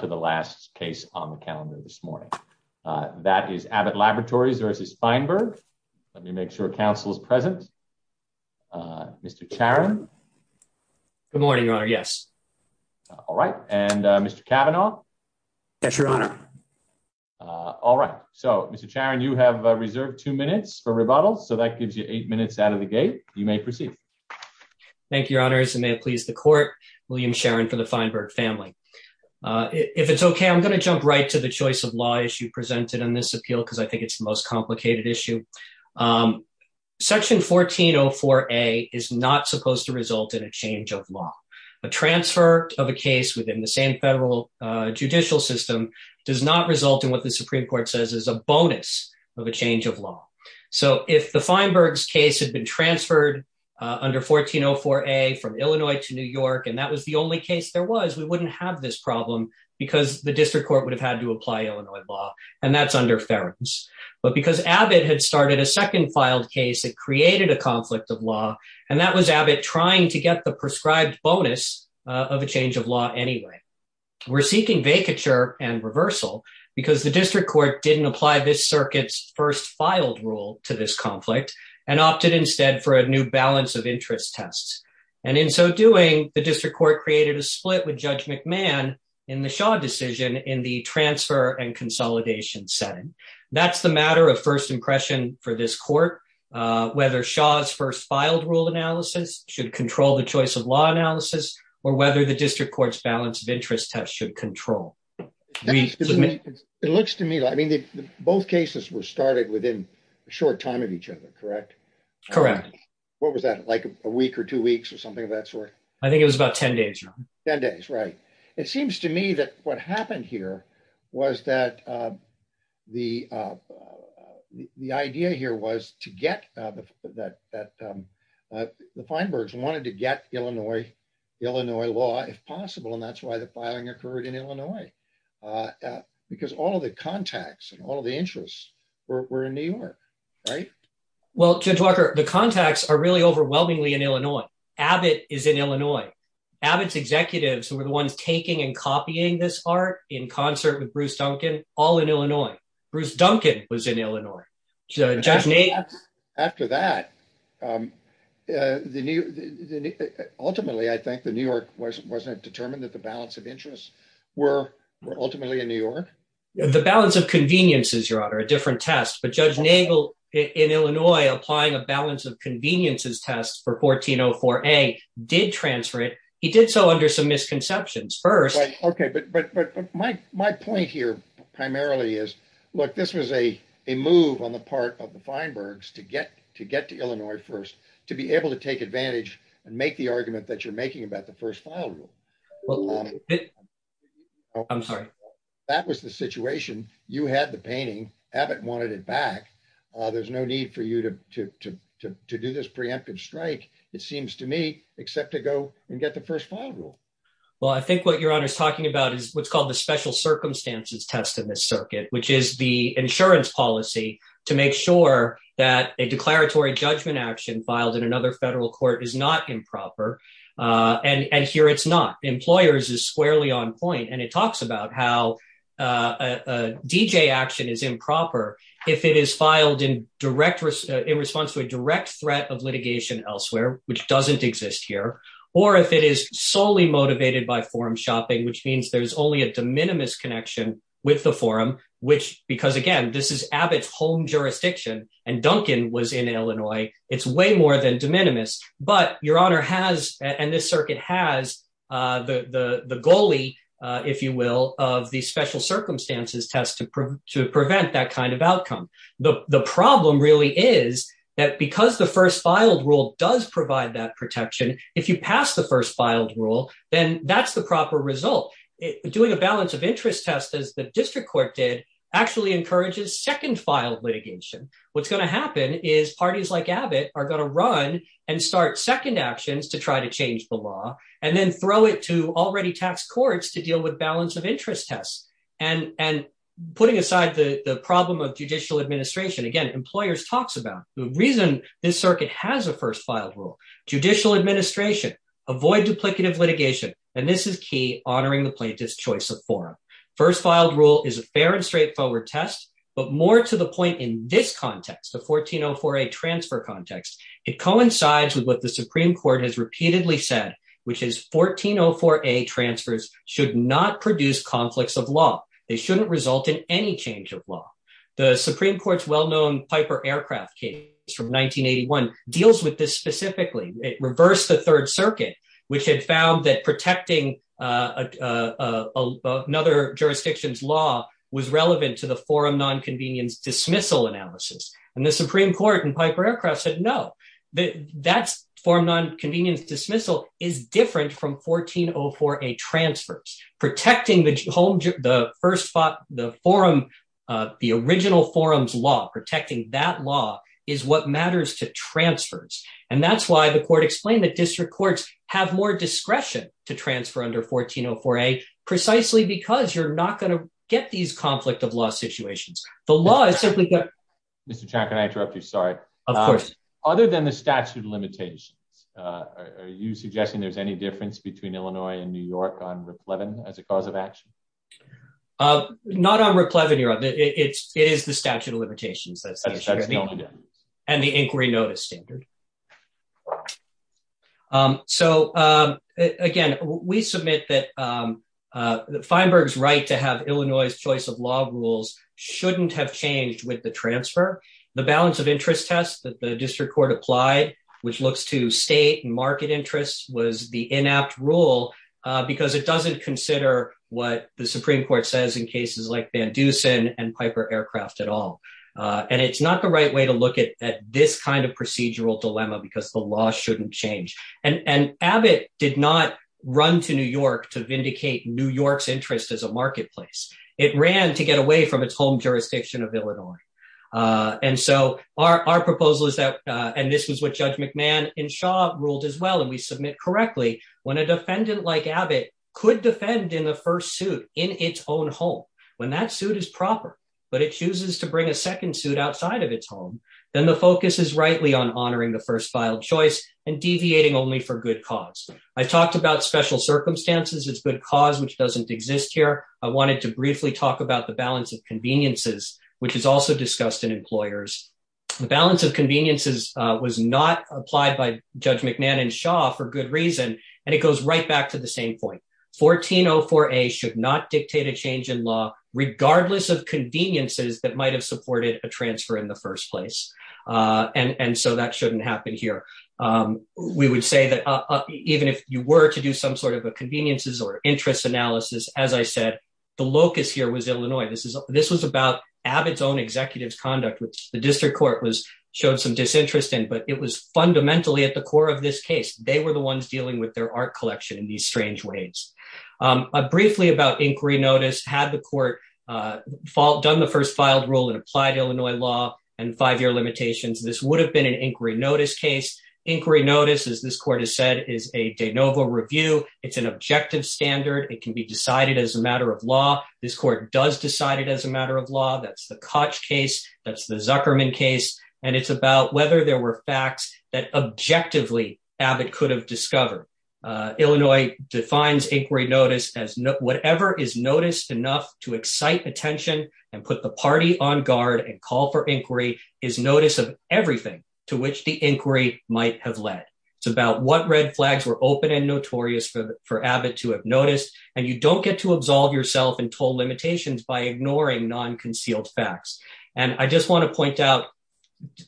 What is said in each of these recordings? Good morning, your honor. Yes. All right. And Mr Cavanaugh. Yes, your honor. All right. So, Mr. Sharon, you have reserved two minutes for rebuttal so that gives you eight minutes out of the gate, you may proceed. Thank you your honors and may it please the court, William Sharon for the Feinberg family. If it's okay I'm going to jump right to the choice of law issue presented in this appeal because I think it's the most complicated issue. Section 1404 a is not supposed to result in a change of law, a transfer of a case within the same federal judicial system does not result in what the Supreme Court says is a bonus of a change of law. So if the Feinberg's case had been transferred under 1404 a from Illinois to New York and that was the only case there was we wouldn't have this problem, because the district court would have had to apply Illinois law, and that's under Ferens, but because Abbott had started a second filed case that created a conflict of law, and that was Abbott trying to get the prescribed bonus of a change of law anyway. We're seeking vacature and reversal, because the district court didn't apply this circuits first filed rule to this conflict and opted instead for a new balance of interest tests. And in so doing, the district court created a split with Judge McMahon in the shot decision in the transfer and consolidation setting. That's the matter of first impression for this court. Whether Shaw's first filed rule analysis should control the choice of law analysis, or whether the district court's balance of interest test should control. It looks to me, I mean, both cases were started within a short time of each other. Correct. Correct. What was that like a week or two weeks or something of that sort. I think it was about 10 days. 10 days. Right. It seems to me that what happened here was that the, the idea here was to get that the Feinberg's wanted to get Illinois, Illinois law, if possible, and that's why the filing occurred in Illinois. Because all of the contacts and all of the interests were in New York. Right. Well, Judge Walker, the contacts are really overwhelmingly in Illinois. Abbott is in Illinois. Abbott's executives who were the ones taking and copying this art in concert with Bruce Duncan, all in Illinois. Bruce Duncan was in Illinois. After that, ultimately, I think the New York wasn't determined that the balance of interests were ultimately in New York. The balance of conveniences, Your Honor, a different test, but Judge Nagel in Illinois applying a balance of conveniences test for 1404A did transfer it. He did so under some misconceptions. Okay, but, but, but my, my point here primarily is, look, this was a, a move on the part of the Feinberg's to get to get to Illinois first to be able to take advantage and make the argument that you're making about the first file rule. I'm sorry. That was the situation, you had the painting Abbott wanted it back. There's no need for you to do this preemptive strike, it seems to me, except to go and get the first file rule. Well, I think what Your Honor is talking about is what's called the special circumstances test in this circuit, which is the insurance policy to make sure that a declaratory judgment action filed in another federal court is not improper. And here it's not. Employers is squarely on point and it talks about how a DJ action is improper. If it is filed in direct response to a direct threat of litigation elsewhere, which doesn't exist here, or if it is solely motivated by forum shopping, which means there's only a de minimis connection with the forum, which, because again, this is Abbott's home jurisdiction, and Duncan was in Illinois, it's way more than de minimis. But Your Honor has, and this circuit has, the goalie, if you will, of the special circumstances test to prevent that kind of outcome. The problem really is that because the first filed rule does provide that protection, if you pass the first filed rule, then that's the proper result. Doing a balance of interest test, as the district court did, actually encourages second filed litigation. What's going to happen is parties like Abbott are going to run and start second actions to try to change the law, and then throw it to already taxed courts to deal with balance of interest tests. And putting aside the problem of judicial administration, again, employers talks about the reason this circuit has a first filed rule, judicial administration, avoid duplicative litigation, and this is key, honoring the plaintiff's choice of forum. First filed rule is a fair and straightforward test, but more to the point in this context, the 1404A transfer context, it coincides with what the Supreme Court has repeatedly said, which is 1404A transfers should not produce conflicts of law. They shouldn't result in any change of law. The Supreme Court's well-known Piper Aircraft case from 1981 deals with this specifically. It reversed the Third Circuit, which had found that protecting another jurisdiction's law was relevant to the forum nonconvenience dismissal analysis. And the Supreme Court in Piper Aircraft said, no, that's forum nonconvenience dismissal is different from 1404A transfers. Protecting the original forum's law, protecting that law is what matters to transfers. And that's why the court explained that district courts have more discretion to transfer under 1404A, precisely because you're not going to get these conflict of law situations. The law is simply that. Mr. Chan, can I interrupt you? Sorry. Of course. Other than the statute of limitations, are you suggesting there's any difference between Illinois and New York on Riplevin as a cause of action? Not on Riplevin, Your Honor. It is the statute of limitations. And the inquiry notice standard. So, again, we submit that Feinberg's right to have Illinois' choice of law rules shouldn't have changed with the transfer. The balance of interest test that the district court applied, which looks to state and market interests, was the inapt rule because it doesn't consider what the Supreme Court says in cases like Van Dusen and Piper Aircraft at all. And it's not the right way to look at this kind of procedural dilemma because the law shouldn't change. And Abbott did not run to New York to vindicate New York's interest as a marketplace. It ran to get away from its home jurisdiction of Illinois. And so our proposal is that, and this was what Judge McMahon in Shaw ruled as well, and we submit correctly, when a defendant like Abbott could defend in the first suit in its own home, when that suit is proper, but it chooses to bring a second suit outside of its home, then the focus is rightly on honoring the first filed choice and deviating only for good cause. I've talked about special circumstances. It's good cause, which doesn't exist here. I wanted to briefly talk about the balance of conveniences, which is also discussed in employers. The balance of conveniences was not applied by Judge McMahon in Shaw for good reason, and it goes right back to the same point. 1404A should not dictate a change in law, regardless of conveniences that might have supported a transfer in the first place. And so that shouldn't happen here. We would say that even if you were to do some sort of a conveniences or interest analysis, as I said, the locus here was Illinois. This was about Abbott's own executive's conduct, which the district court showed some disinterest in, but it was fundamentally at the core of this case. They were the ones dealing with their art collection in these strange ways. Briefly about inquiry notice, had the court done the first filed rule in applied Illinois law and five-year limitations, this would have been an inquiry notice case. Inquiry notice, as this court has said, is a de novo review. It's an objective standard. It can be decided as a matter of law. This court does decide it as a matter of law. That's the Koch case. That's the Zuckerman case. And it's about whether there were facts that objectively Abbott could have discovered. Illinois defines inquiry notice as whatever is noticed enough to excite attention and put the party on guard and call for inquiry is notice of everything to which the inquiry might have led. It's about what red flags were open and notorious for Abbott to have noticed, and you don't get to absolve yourself and toll limitations by ignoring non-concealed facts. And I just want to point out,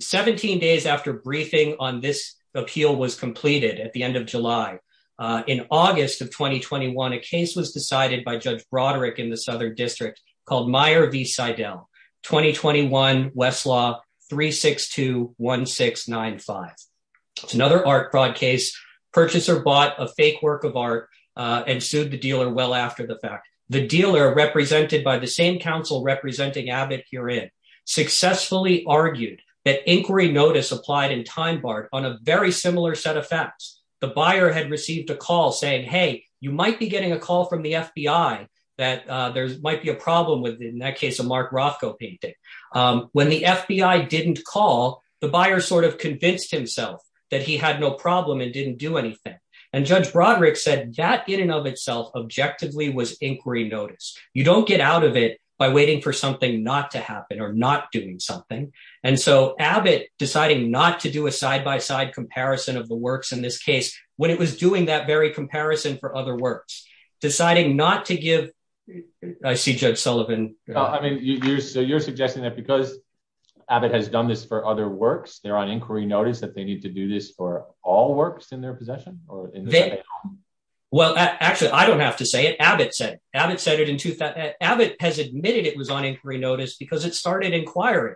17 days after briefing on this appeal was completed at the end of July, in August of 2021, a case was decided by Judge Broderick in the Southern District called Meyer v. Seidel, 2021 Westlaw 3621695. It's another art fraud case. Purchaser bought a fake work of art and sued the dealer well after the fact. The dealer, represented by the same counsel representing Abbott herein, successfully argued that inquiry notice applied in time barred on a very similar set of facts. The buyer had received a call saying, hey, you might be getting a call from the FBI that there might be a problem with, in that case, a Mark Rothko painting. When the FBI didn't call, the buyer sort of convinced himself that he had no problem and didn't do anything. And Judge Broderick said that in and of itself objectively was inquiry notice. You don't get out of it by waiting for something not to happen or not doing something. And so Abbott deciding not to do a side-by-side comparison of the works in this case, when it was doing that very comparison for other works, deciding not to give, I see Judge Sullivan. I mean, so you're suggesting that because Abbott has done this for other works, they're on inquiry notice that they need to do this for all works in their possession? Well, actually, I don't have to say it. Abbott said it. Abbott has admitted it was on inquiry notice because it started inquiring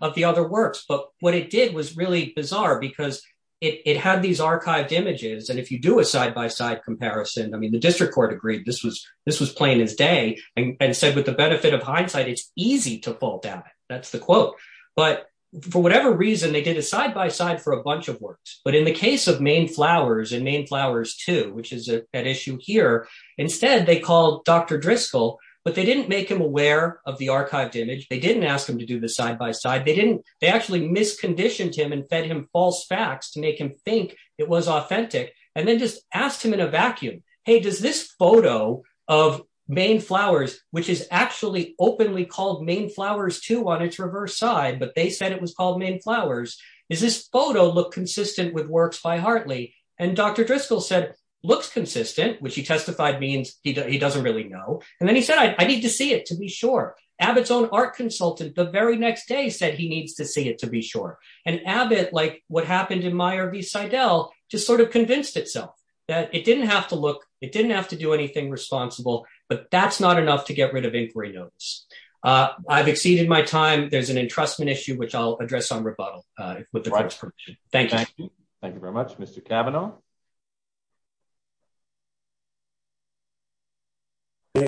of the other works. But what it did was really bizarre because it had these archived images. And if you do a side-by-side comparison, I mean, the district court agreed this was plain as day and said, with the benefit of hindsight, it's easy to fall down. That's the quote. But for whatever reason, they did a side-by-side for a bunch of works. But in the case of Maine Flowers and Maine Flowers 2, which is at issue here, instead, they called Dr. Driscoll. But they didn't make him aware of the archived image. They didn't ask him to do the side-by-side. They actually misconditioned him and fed him false facts to make him think it was authentic and then just asked him in a vacuum, hey, does this photo of Maine Flowers, which is actually openly called Maine Flowers 2 on its reverse side, but they said it was called Maine Flowers, does this photo look consistent with works by Hartley? And Dr. Driscoll said it looks consistent, which he testified means he doesn't really know. And then he said, I need to see it to be sure. Abbott's own art consultant the very next day said he needs to see it to be sure. And Abbott, like what happened in Meyer v. Seidel, just sort of convinced itself that it didn't have to look, it didn't have to do anything responsible, but that's not enough to get rid of inquiry notice. I've exceeded my time. There's an entrustment issue, which I'll address on rebuttal with the court's permission. Thank you. Thank you very much, Mr. Cavanaugh.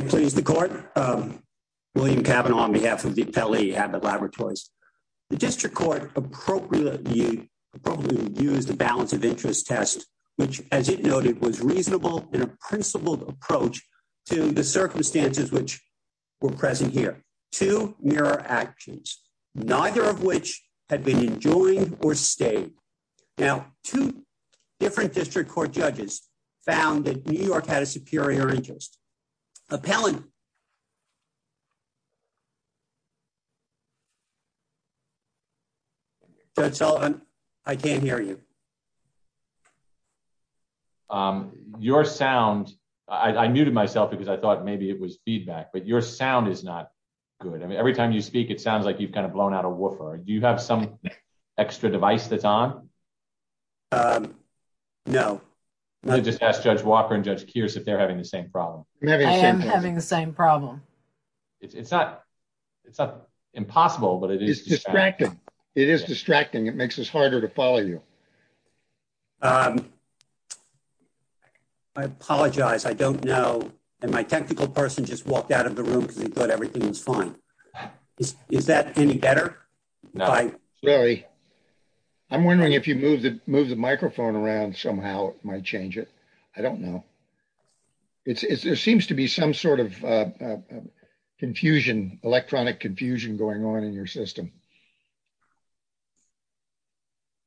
Please, the court, William Cavanaugh, on behalf of the Pele Abbott Laboratories, the district court appropriately used the balance of interest test, which, as it noted, was reasonable in a principled approach to the circumstances which were present here. Two mirror actions, neither of which had been enjoined or stayed. Now, two different district court judges found that New York had a superior interest appellant. Judge Sullivan, I can't hear you. Your sound. I muted myself because I thought maybe it was feedback, but your sound is not good. I mean, every time you speak, it sounds like you've kind of blown out a woofer. Do you have some extra device that's on? No. I just asked Judge Walker and Judge Kearse if they're having the same problem. I am having the same problem. It's not impossible, but it is distracting. It is distracting. It makes us harder to follow you. I apologize. I don't know. And my technical person just walked out of the room because he thought everything was fine. Is that any better? No. I'm wondering if you move the move the microphone around somehow might change it. I don't know. It seems to be some sort of confusion, electronic confusion going on in your system.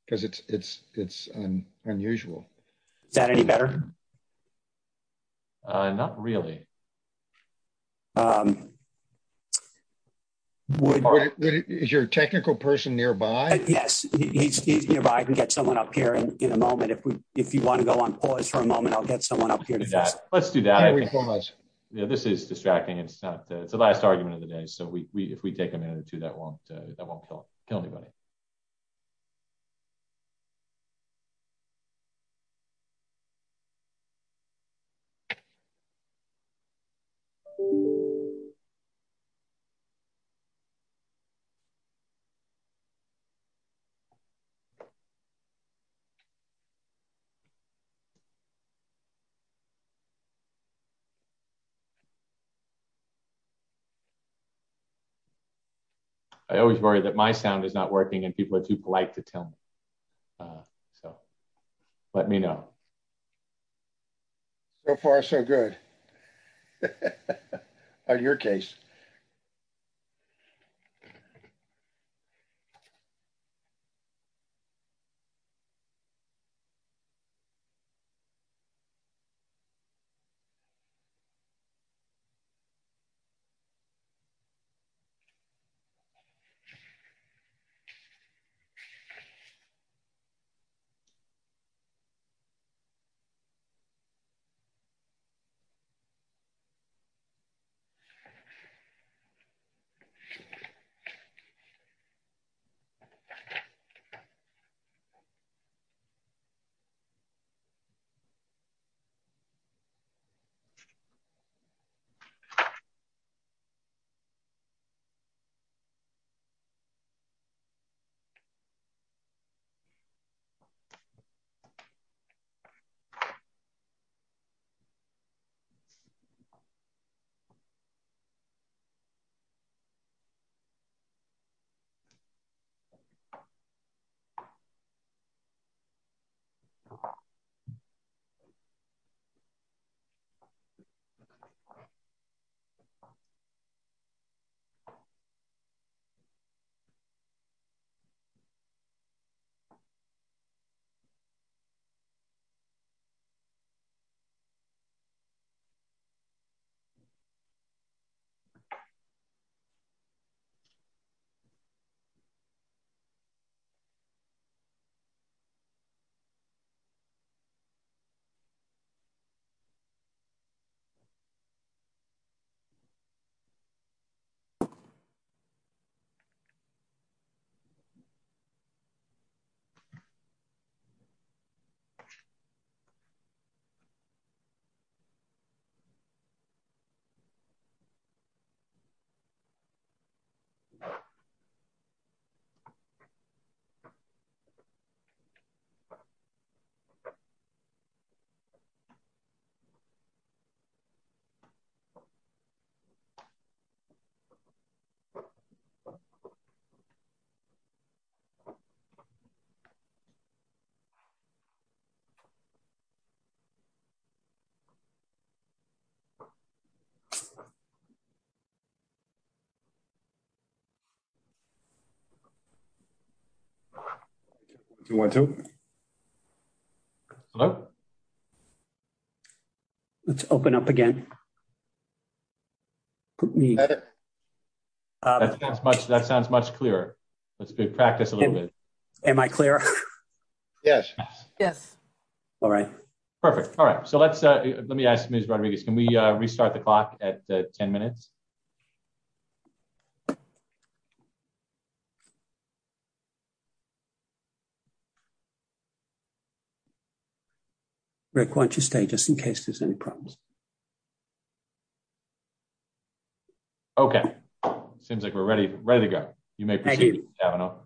Because it's it's it's unusual. Is that any better? Not really. Is your technical person nearby? Yes. He's nearby. I can get someone up here in a moment if we if you want to go on pause for a moment. I'll get someone up here. Let's do that. This is distracting. It's not. It's the last argument of the day. So we if we take a minute or two, that won't that won't kill anybody. I always worry that my sound is not working and people are too polite to tell me. So let me know. So far, so good. All right. All right. All right. All right. One, two. Let's open up again. That sounds much clearer. Let's practice a little bit. Am I clear? Yes. Yes. All right. Perfect. All right. So let's let me ask Miss Rodriguez, can we restart the clock at 10 minutes? Rick, why don't you stay just in case there's any problems? OK, seems like we're ready. Ready to go. You may have an open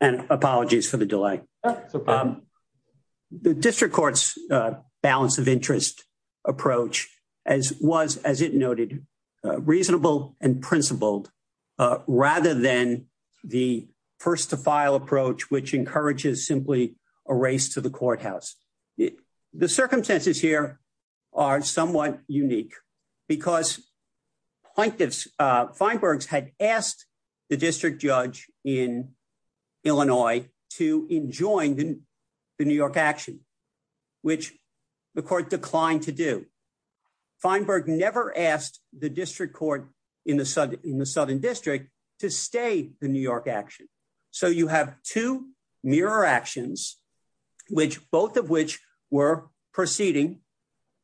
and apologies for the delay. The district court's balance of interest approach, as was, as it noted, reasonable and principled rather than the first to file approach, which encourages simply a race to the courthouse. The circumstances here are somewhat unique because plaintiffs Feinberg had asked the district judge in Illinois to enjoin the New York action, which the court declined to do. Feinberg never asked the district court in the southern district to stay the New York action. So you have two mirror actions, which both of which were proceeding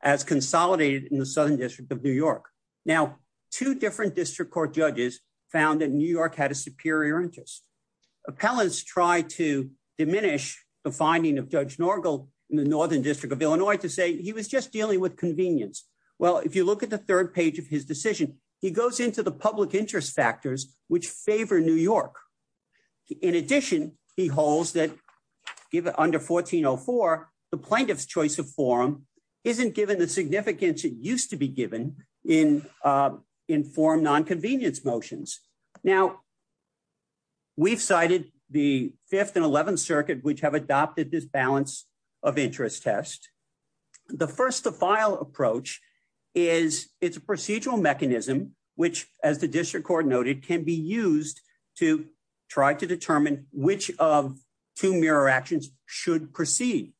as consolidated in the southern district of New York. Now, two different district court judges found that New York had a superior interest. Appellants tried to diminish the finding of Judge Norgal in the northern district of Illinois to say he was just dealing with convenience. Well, if you look at the third page of his decision, he goes into the public interest factors which favor New York. In addition, he holds that under 1404, the plaintiff's choice of forum isn't given the significance it used to be given in informed nonconvenience motions. Now. We've cited the fifth and 11th Circuit, which have adopted this balance of interest test. The first to file approach is it's a procedural mechanism, which, as the district court noted, can be used to try to determine which of two mirror actions should proceed.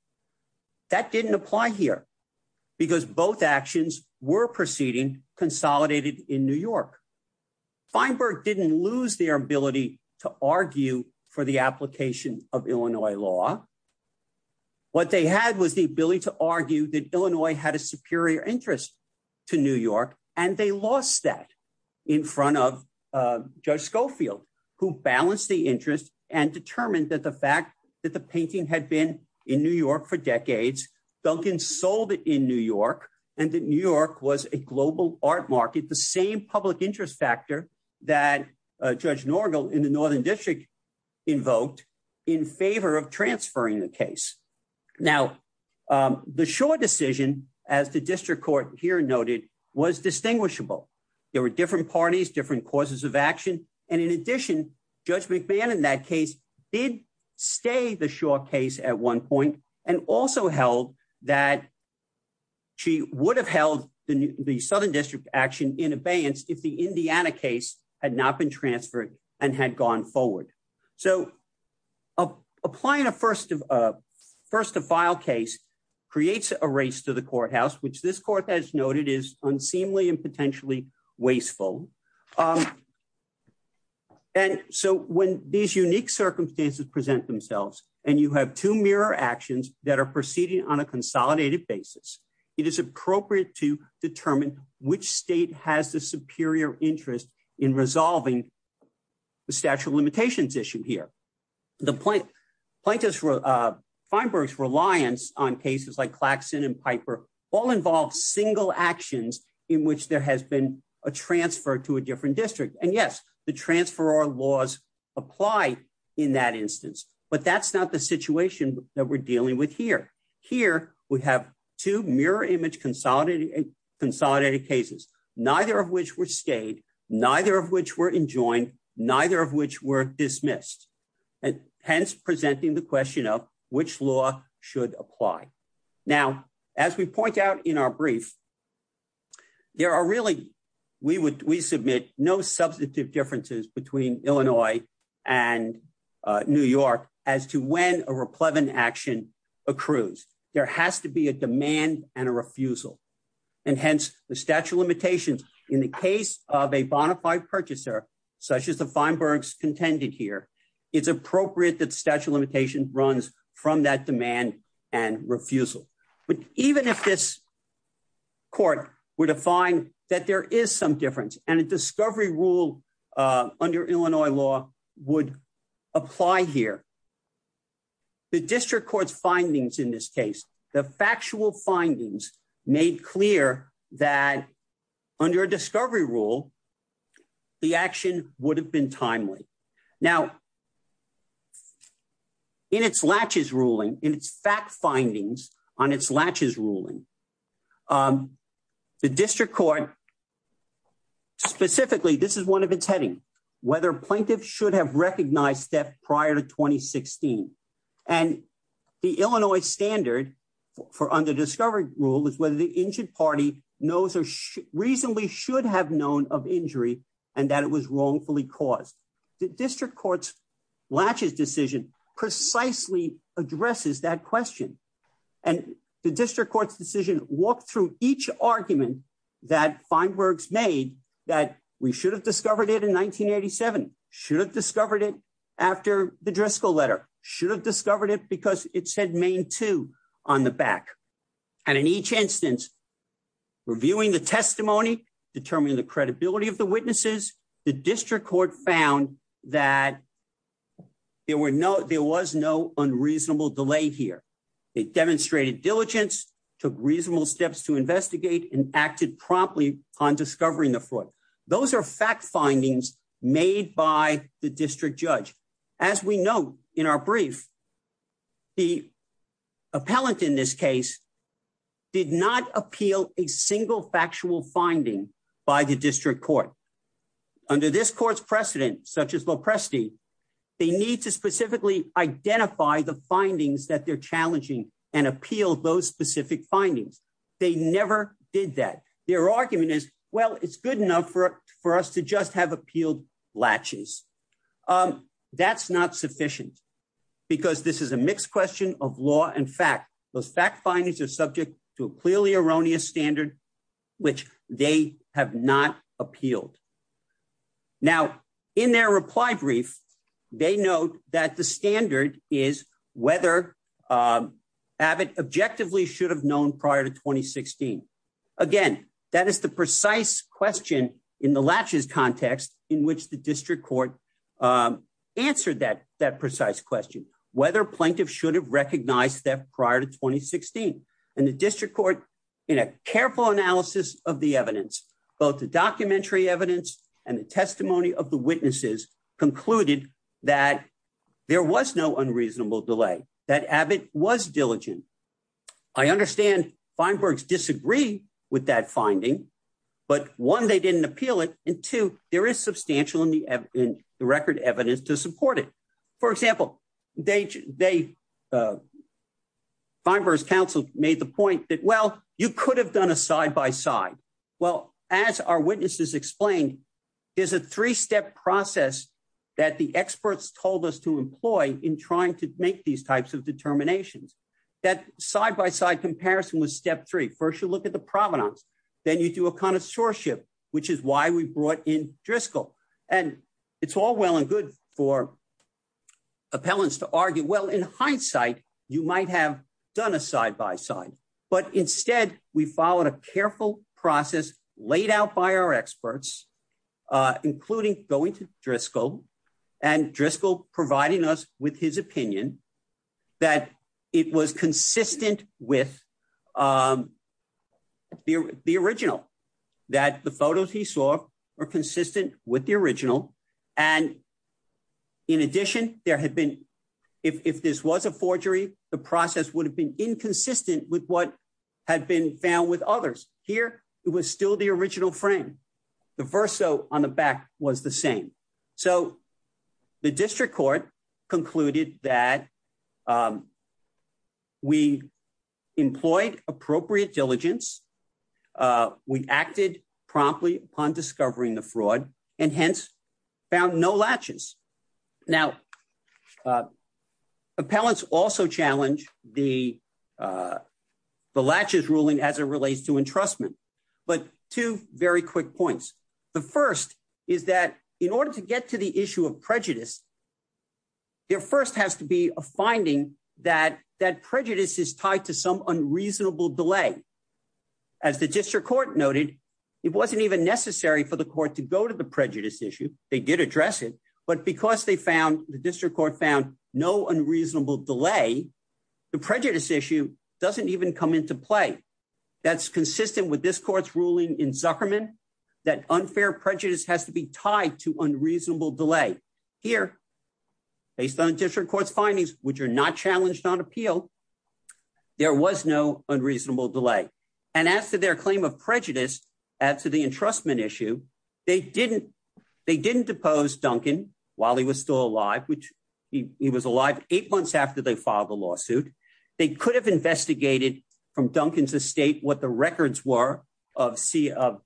That didn't apply here because both actions were proceeding consolidated in New York. Feinberg didn't lose their ability to argue for the application of Illinois law. What they had was the ability to argue that Illinois had a superior interest to New York, and they lost that in front of Judge Schofield, who balanced the interest and determined that the fact that the painting had been in New York for decades, Duncan sold it in New York and that New York was a global art market, the same public interest factor that Judge Norgal in the Northern District invoked in favor of transferring the case. Now, the short decision, as the district court here noted, was distinguishable. There were different parties, different causes of action. And in addition, Judge McMahon in that case did stay the short case at one point and also held that she would have held the Southern District action in abeyance if the Indiana case had not been transferred and had gone forward. So applying a first to file case creates a race to the courthouse, which this court has noted is unseemly and potentially wasteful. And so when these unique circumstances present themselves and you have two mirror actions that are proceeding on a consolidated basis, it is appropriate to determine which state has the superior interest in resolving the statute of limitations issue here. The plaintiffs' reliance on cases like Claxton and Piper all involve single actions in which there has been a transfer to a different district. And yes, the transferor laws apply in that instance, but that's not the situation that we're dealing with here. Here we have two mirror image consolidated cases, neither of which were stayed, neither of which were enjoined, neither of which were dismissed, hence presenting the question of which law should apply. Now, as we point out in our brief, we submit no substantive differences between Illinois and New York as to when a replevant action accrues. There has to be a demand and a refusal, and hence the statute of limitations in the case of a bona fide purchaser, such as the Feinbergs contended here, it's appropriate that statute of limitations runs from that demand and refusal. But even if this court were to find that there is some difference and a discovery rule under Illinois law would apply here, the district court's findings in this case, the factual findings made clear that under a discovery rule, the action would have been timely. Now, in its latches ruling, in its fact findings on its latches ruling, the district court specifically, this is one of its heading, whether plaintiffs should have recognized theft prior to 2016. And the Illinois standard for under discovery rule is whether the injured party knows or reasonably should have known of injury and that it was wrongfully caused. The district court's latches decision precisely addresses that question. And the district court's decision walked through each argument that Feinbergs made that we should have discovered it in 1987, should have discovered it after the Driscoll letter, should have discovered it because it said Maine II on the back. And in each instance, reviewing the testimony, determining the credibility of the witnesses, the district court found that there were no there was no unreasonable delay here. It demonstrated diligence, took reasonable steps to investigate and acted promptly on discovering the fraud. Those are fact findings made by the district judge. As we know, in our brief. The appellant in this case did not appeal a single factual finding by the district court. Under this court's precedent, such as Lopresti, they need to specifically identify the findings that they're challenging and appeal those specific findings. They never did that. Their argument is, well, it's good enough for for us to just have appealed latches. That's not sufficient because this is a mixed question of law. In fact, those fact findings are subject to a clearly erroneous standard, which they have not appealed. Now, in their reply brief, they note that the standard is whether Abbott objectively should have known prior to 2016. Again, that is the precise question in the latches context in which the district court answered that that precise question, whether plaintiffs should have recognized that prior to 2016 and the district court in a careful analysis of the evidence, both the documentary evidence and the testimony of the witnesses concluded that there was no unreasonable delay, that Abbott was diligent. I understand Feinberg's disagree with that finding, but one, they didn't appeal it. And two, there is substantial in the record evidence to support it. For example, Feinberg's counsel made the point that, well, you could have done a side by side. Well, as our witnesses explained, there's a three step process that the experts told us to employ in trying to make these types of determinations. That side by side comparison was step three. First, you look at the provenance. Then you do a connoisseurship, which is why we brought in Driscoll. And it's all well and good for appellants to argue, well, in hindsight, you might have done a side by side. But instead, we followed a careful process laid out by our experts, including going to Driscoll and Driscoll providing us with his opinion that it was consistent with the original, that the photos he saw were consistent with the original. And in addition, there had been, if this was a forgery, the process would have been inconsistent with what had been found with others. Here, it was still the original frame. The verso on the back was the same. So the district court concluded that we employed appropriate diligence. We acted promptly upon discovering the fraud and hence found no latches. Now, appellants also challenge the the latches ruling as it relates to entrustment. But two very quick points. The first is that in order to get to the issue of prejudice, there first has to be a finding that that prejudice is tied to some unreasonable delay. As the district court noted, it wasn't even necessary for the court to go to the prejudice issue, they did address it, but because they found the district court found no unreasonable delay. The prejudice issue doesn't even come into play. That's consistent with this court's ruling in Zuckerman, that unfair prejudice has to be tied to unreasonable delay. Here, based on district court's findings, which are not challenged on appeal, there was no unreasonable delay. And as to their claim of prejudice, as to the entrustment issue, they didn't depose Duncan while he was still alive, which he was alive eight months after they filed the lawsuit. They could have investigated from Duncan's estate what the records were of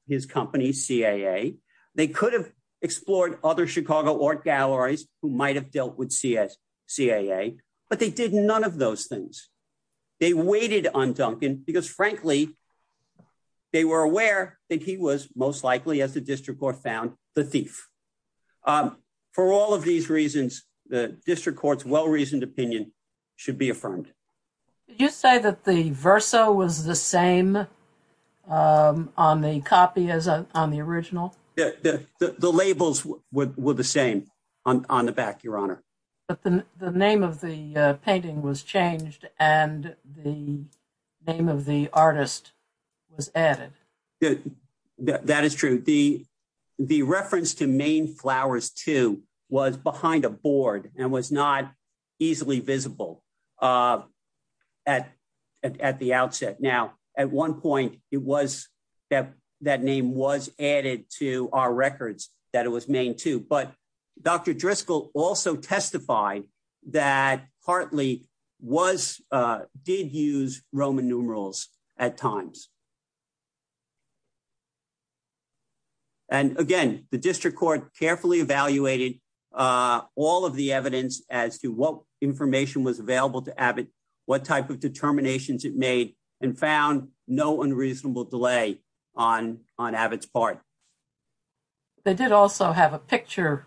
his company, CAA. They could have explored other Chicago art galleries who might have dealt with CAA, but they did none of those things. They waited on Duncan because, frankly, they were aware that he was most likely, as the district court found, the thief. For all of these reasons, the district court's well-reasoned opinion should be affirmed. Did you say that the verso was the same on the copy as on the original? The labels were the same on the back, Your Honor. But the name of the painting was changed and the name of the artist was added. That is true. The reference to Maine Flowers II was behind a board and was not easily visible at the outset. Now, at one point, it was that that name was added to our records, that it was Maine II. But Dr. Driscoll also testified that Hartley did use Roman numerals at times. And again, the district court carefully evaluated all of the evidence as to what information was available to Abbott, what type of determinations it made, and found no unreasonable delay on Abbott's part. They did also have a picture,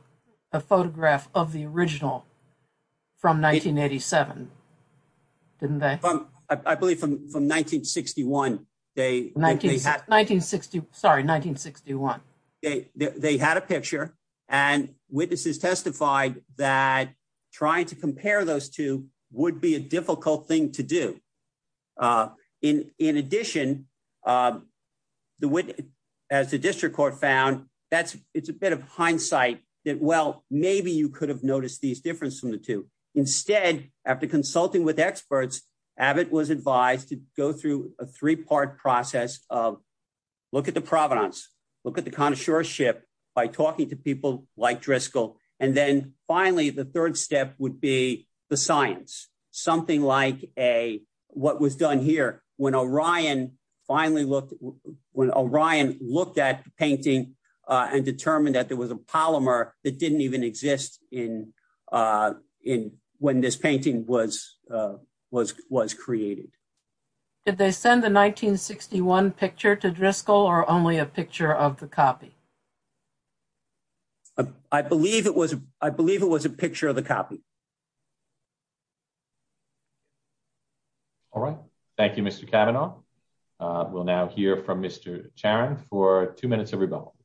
a photograph of the original from 1987, didn't they? I believe from 1961. Sorry, 1961. They had a picture and witnesses testified that trying to compare those two would be a difficult thing to do. In addition, as the district court found, it's a bit of hindsight that, well, maybe you could have noticed these differences from the two. Instead, after consulting with experts, Abbott was advised to go through a three part process of look at the provenance, look at the connoisseurship by talking to people like Driscoll. And then finally, the third step would be the science. Did they send the 1961 picture to Driscoll or only a picture of the copy? I believe it was a picture of the copy. All right. Thank you, Mr. Kavanaugh. We'll now hear from Mr. Charon for two minutes of rebuttal.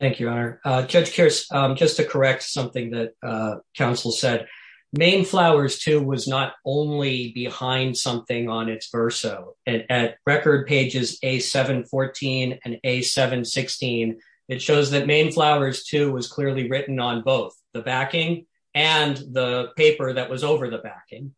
Thank you, Your Honor. Judge Kearse, just to correct something that counsel said, Maine Flowers II was not only behind something on its verso. At record pages A714 and A716, it shows that Maine Flowers II was clearly written on both the backing and the paper that was over the backing.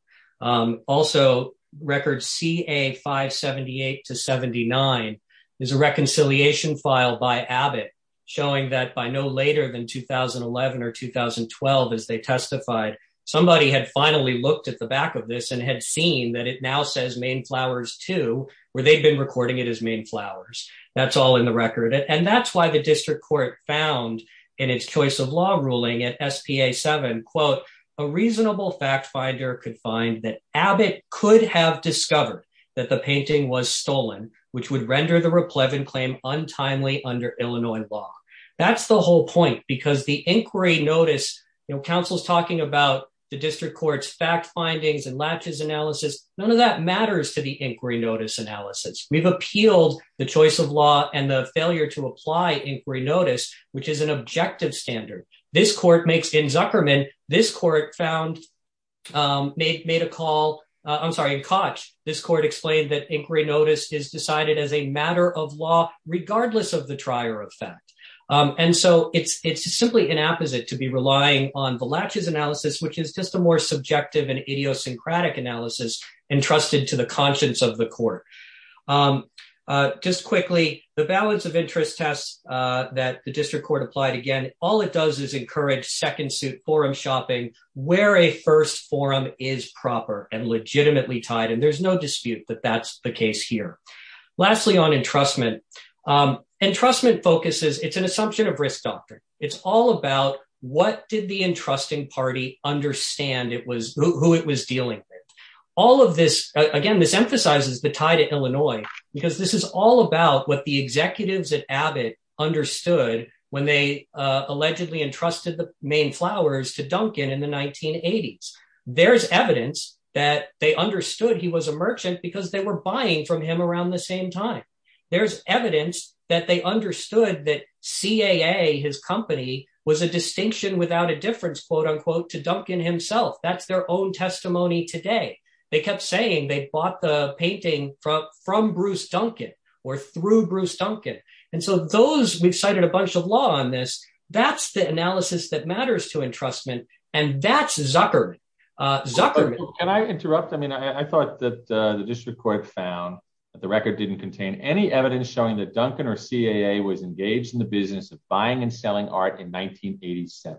Also, record CA578-79 is a reconciliation file by Abbott showing that by no later than 2011 or 2012, as they testified, somebody had finally looked at the back of this and had seen that it now says Maine Flowers II, where they'd been recording it as Maine Flowers. That's all in the record. And that's why the district court found in its choice of law ruling at SPA7, quote, a reasonable fact finder could find that Abbott could have discovered that the painting was stolen, which would render the replete and claim untimely under Illinois law. That's the whole point, because the inquiry notice, you know, counsel's talking about the district court's fact findings and latches analysis. None of that matters to the inquiry notice analysis. We've appealed the choice of law and the failure to apply inquiry notice, which is an objective standard. This court makes, in Zuckerman, this court found, made a call, I'm sorry, in Koch, this court explained that inquiry notice is decided as a matter of law regardless of the trier of fact. And so it's simply an apposite to be relying on the latches analysis, which is just a more subjective and idiosyncratic analysis entrusted to the conscience of the court. Just quickly, the balance of interest test that the district court applied again, all it does is encourage second suit forum shopping where a first forum is proper and legitimately tied. And there's no dispute that that's the case here. Lastly, on entrustment, entrustment focuses, it's an assumption of risk doctrine. It's all about what did the entrusting party understand it was, who it was dealing with. All of this, again, this emphasizes the tie to Illinois, because this is all about what the executives at Abbott understood when they allegedly entrusted the main flowers to Duncan in the 1980s. There's evidence that they understood he was a merchant because they were buying from him around the same time. There's evidence that they understood that CAA, his company, was a distinction without a difference, quote unquote, to Duncan himself. That's their own testimony today. They kept saying they bought the painting from Bruce Duncan or through Bruce Duncan. And so those we've cited a bunch of law on this. That's the analysis that matters to entrustment. And that's Zuckerman. Can I interrupt? I mean, I thought that the district court found that the record didn't contain any evidence showing that Duncan or CAA was engaged in the business of buying and selling art in 1987.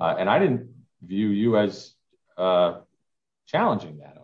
And I didn't view you as challenging that.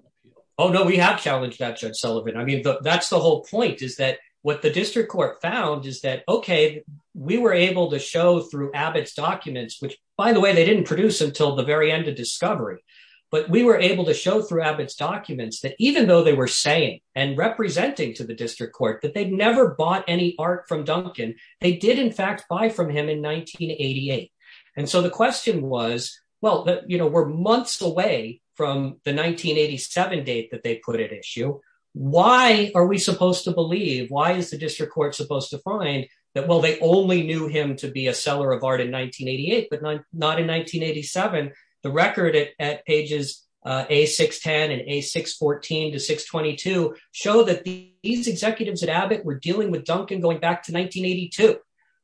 Oh, no, we have challenged that, Judge Sullivan. I mean, that's the whole point is that what the district court found is that, OK, we were able to show through Abbott's documents, which, by the way, they didn't produce until the very end of discovery. But we were able to show through Abbott's documents that even though they were saying and representing to the district court that they'd never bought any art from Duncan, they did, in fact, buy from him in 1988. And so the question was, well, you know, we're months away from the 1987 date that they put at issue. So why are we supposed to believe? Why is the district court supposed to find that? Well, they only knew him to be a seller of art in 1988, but not in 1987. The record at pages A610 and A614 to 622 show that these executives at Abbott were dealing with Duncan going back to 1982.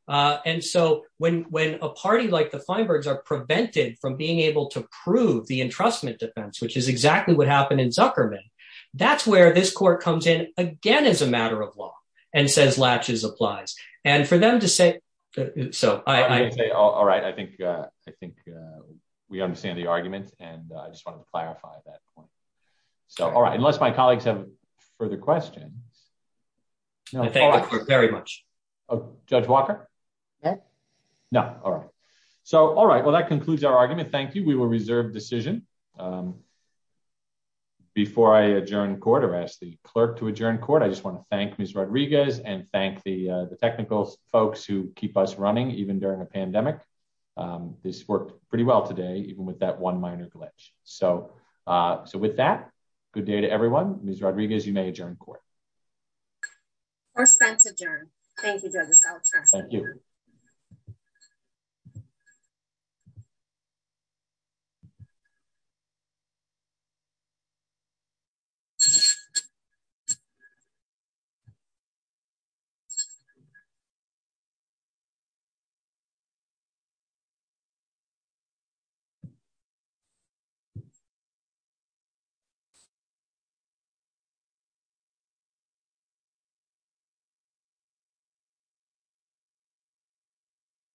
And so when a party like the Feinbergs are prevented from being able to prove the entrustment defense, which is exactly what happened in Zuckerman. That's where this court comes in again as a matter of law and says latches applies. And for them to say so, I say, all right, I think I think we understand the argument. And I just want to clarify that point. So, all right. Unless my colleagues have further questions. Thank you very much, Judge Walker. No. All right. So, all right. Well, that concludes our argument. Thank you. We will reserve decision. Before I adjourn court arrest the clerk to adjourn court, I just want to thank Miss Rodriguez and thank the technical folks who keep us running, even during a pandemic. This worked pretty well today, even with that one minor glitch. So. So with that, good day to everyone. Miss Rodriguez, you may adjourn court. Court is adjourned. Thank you. Thank you.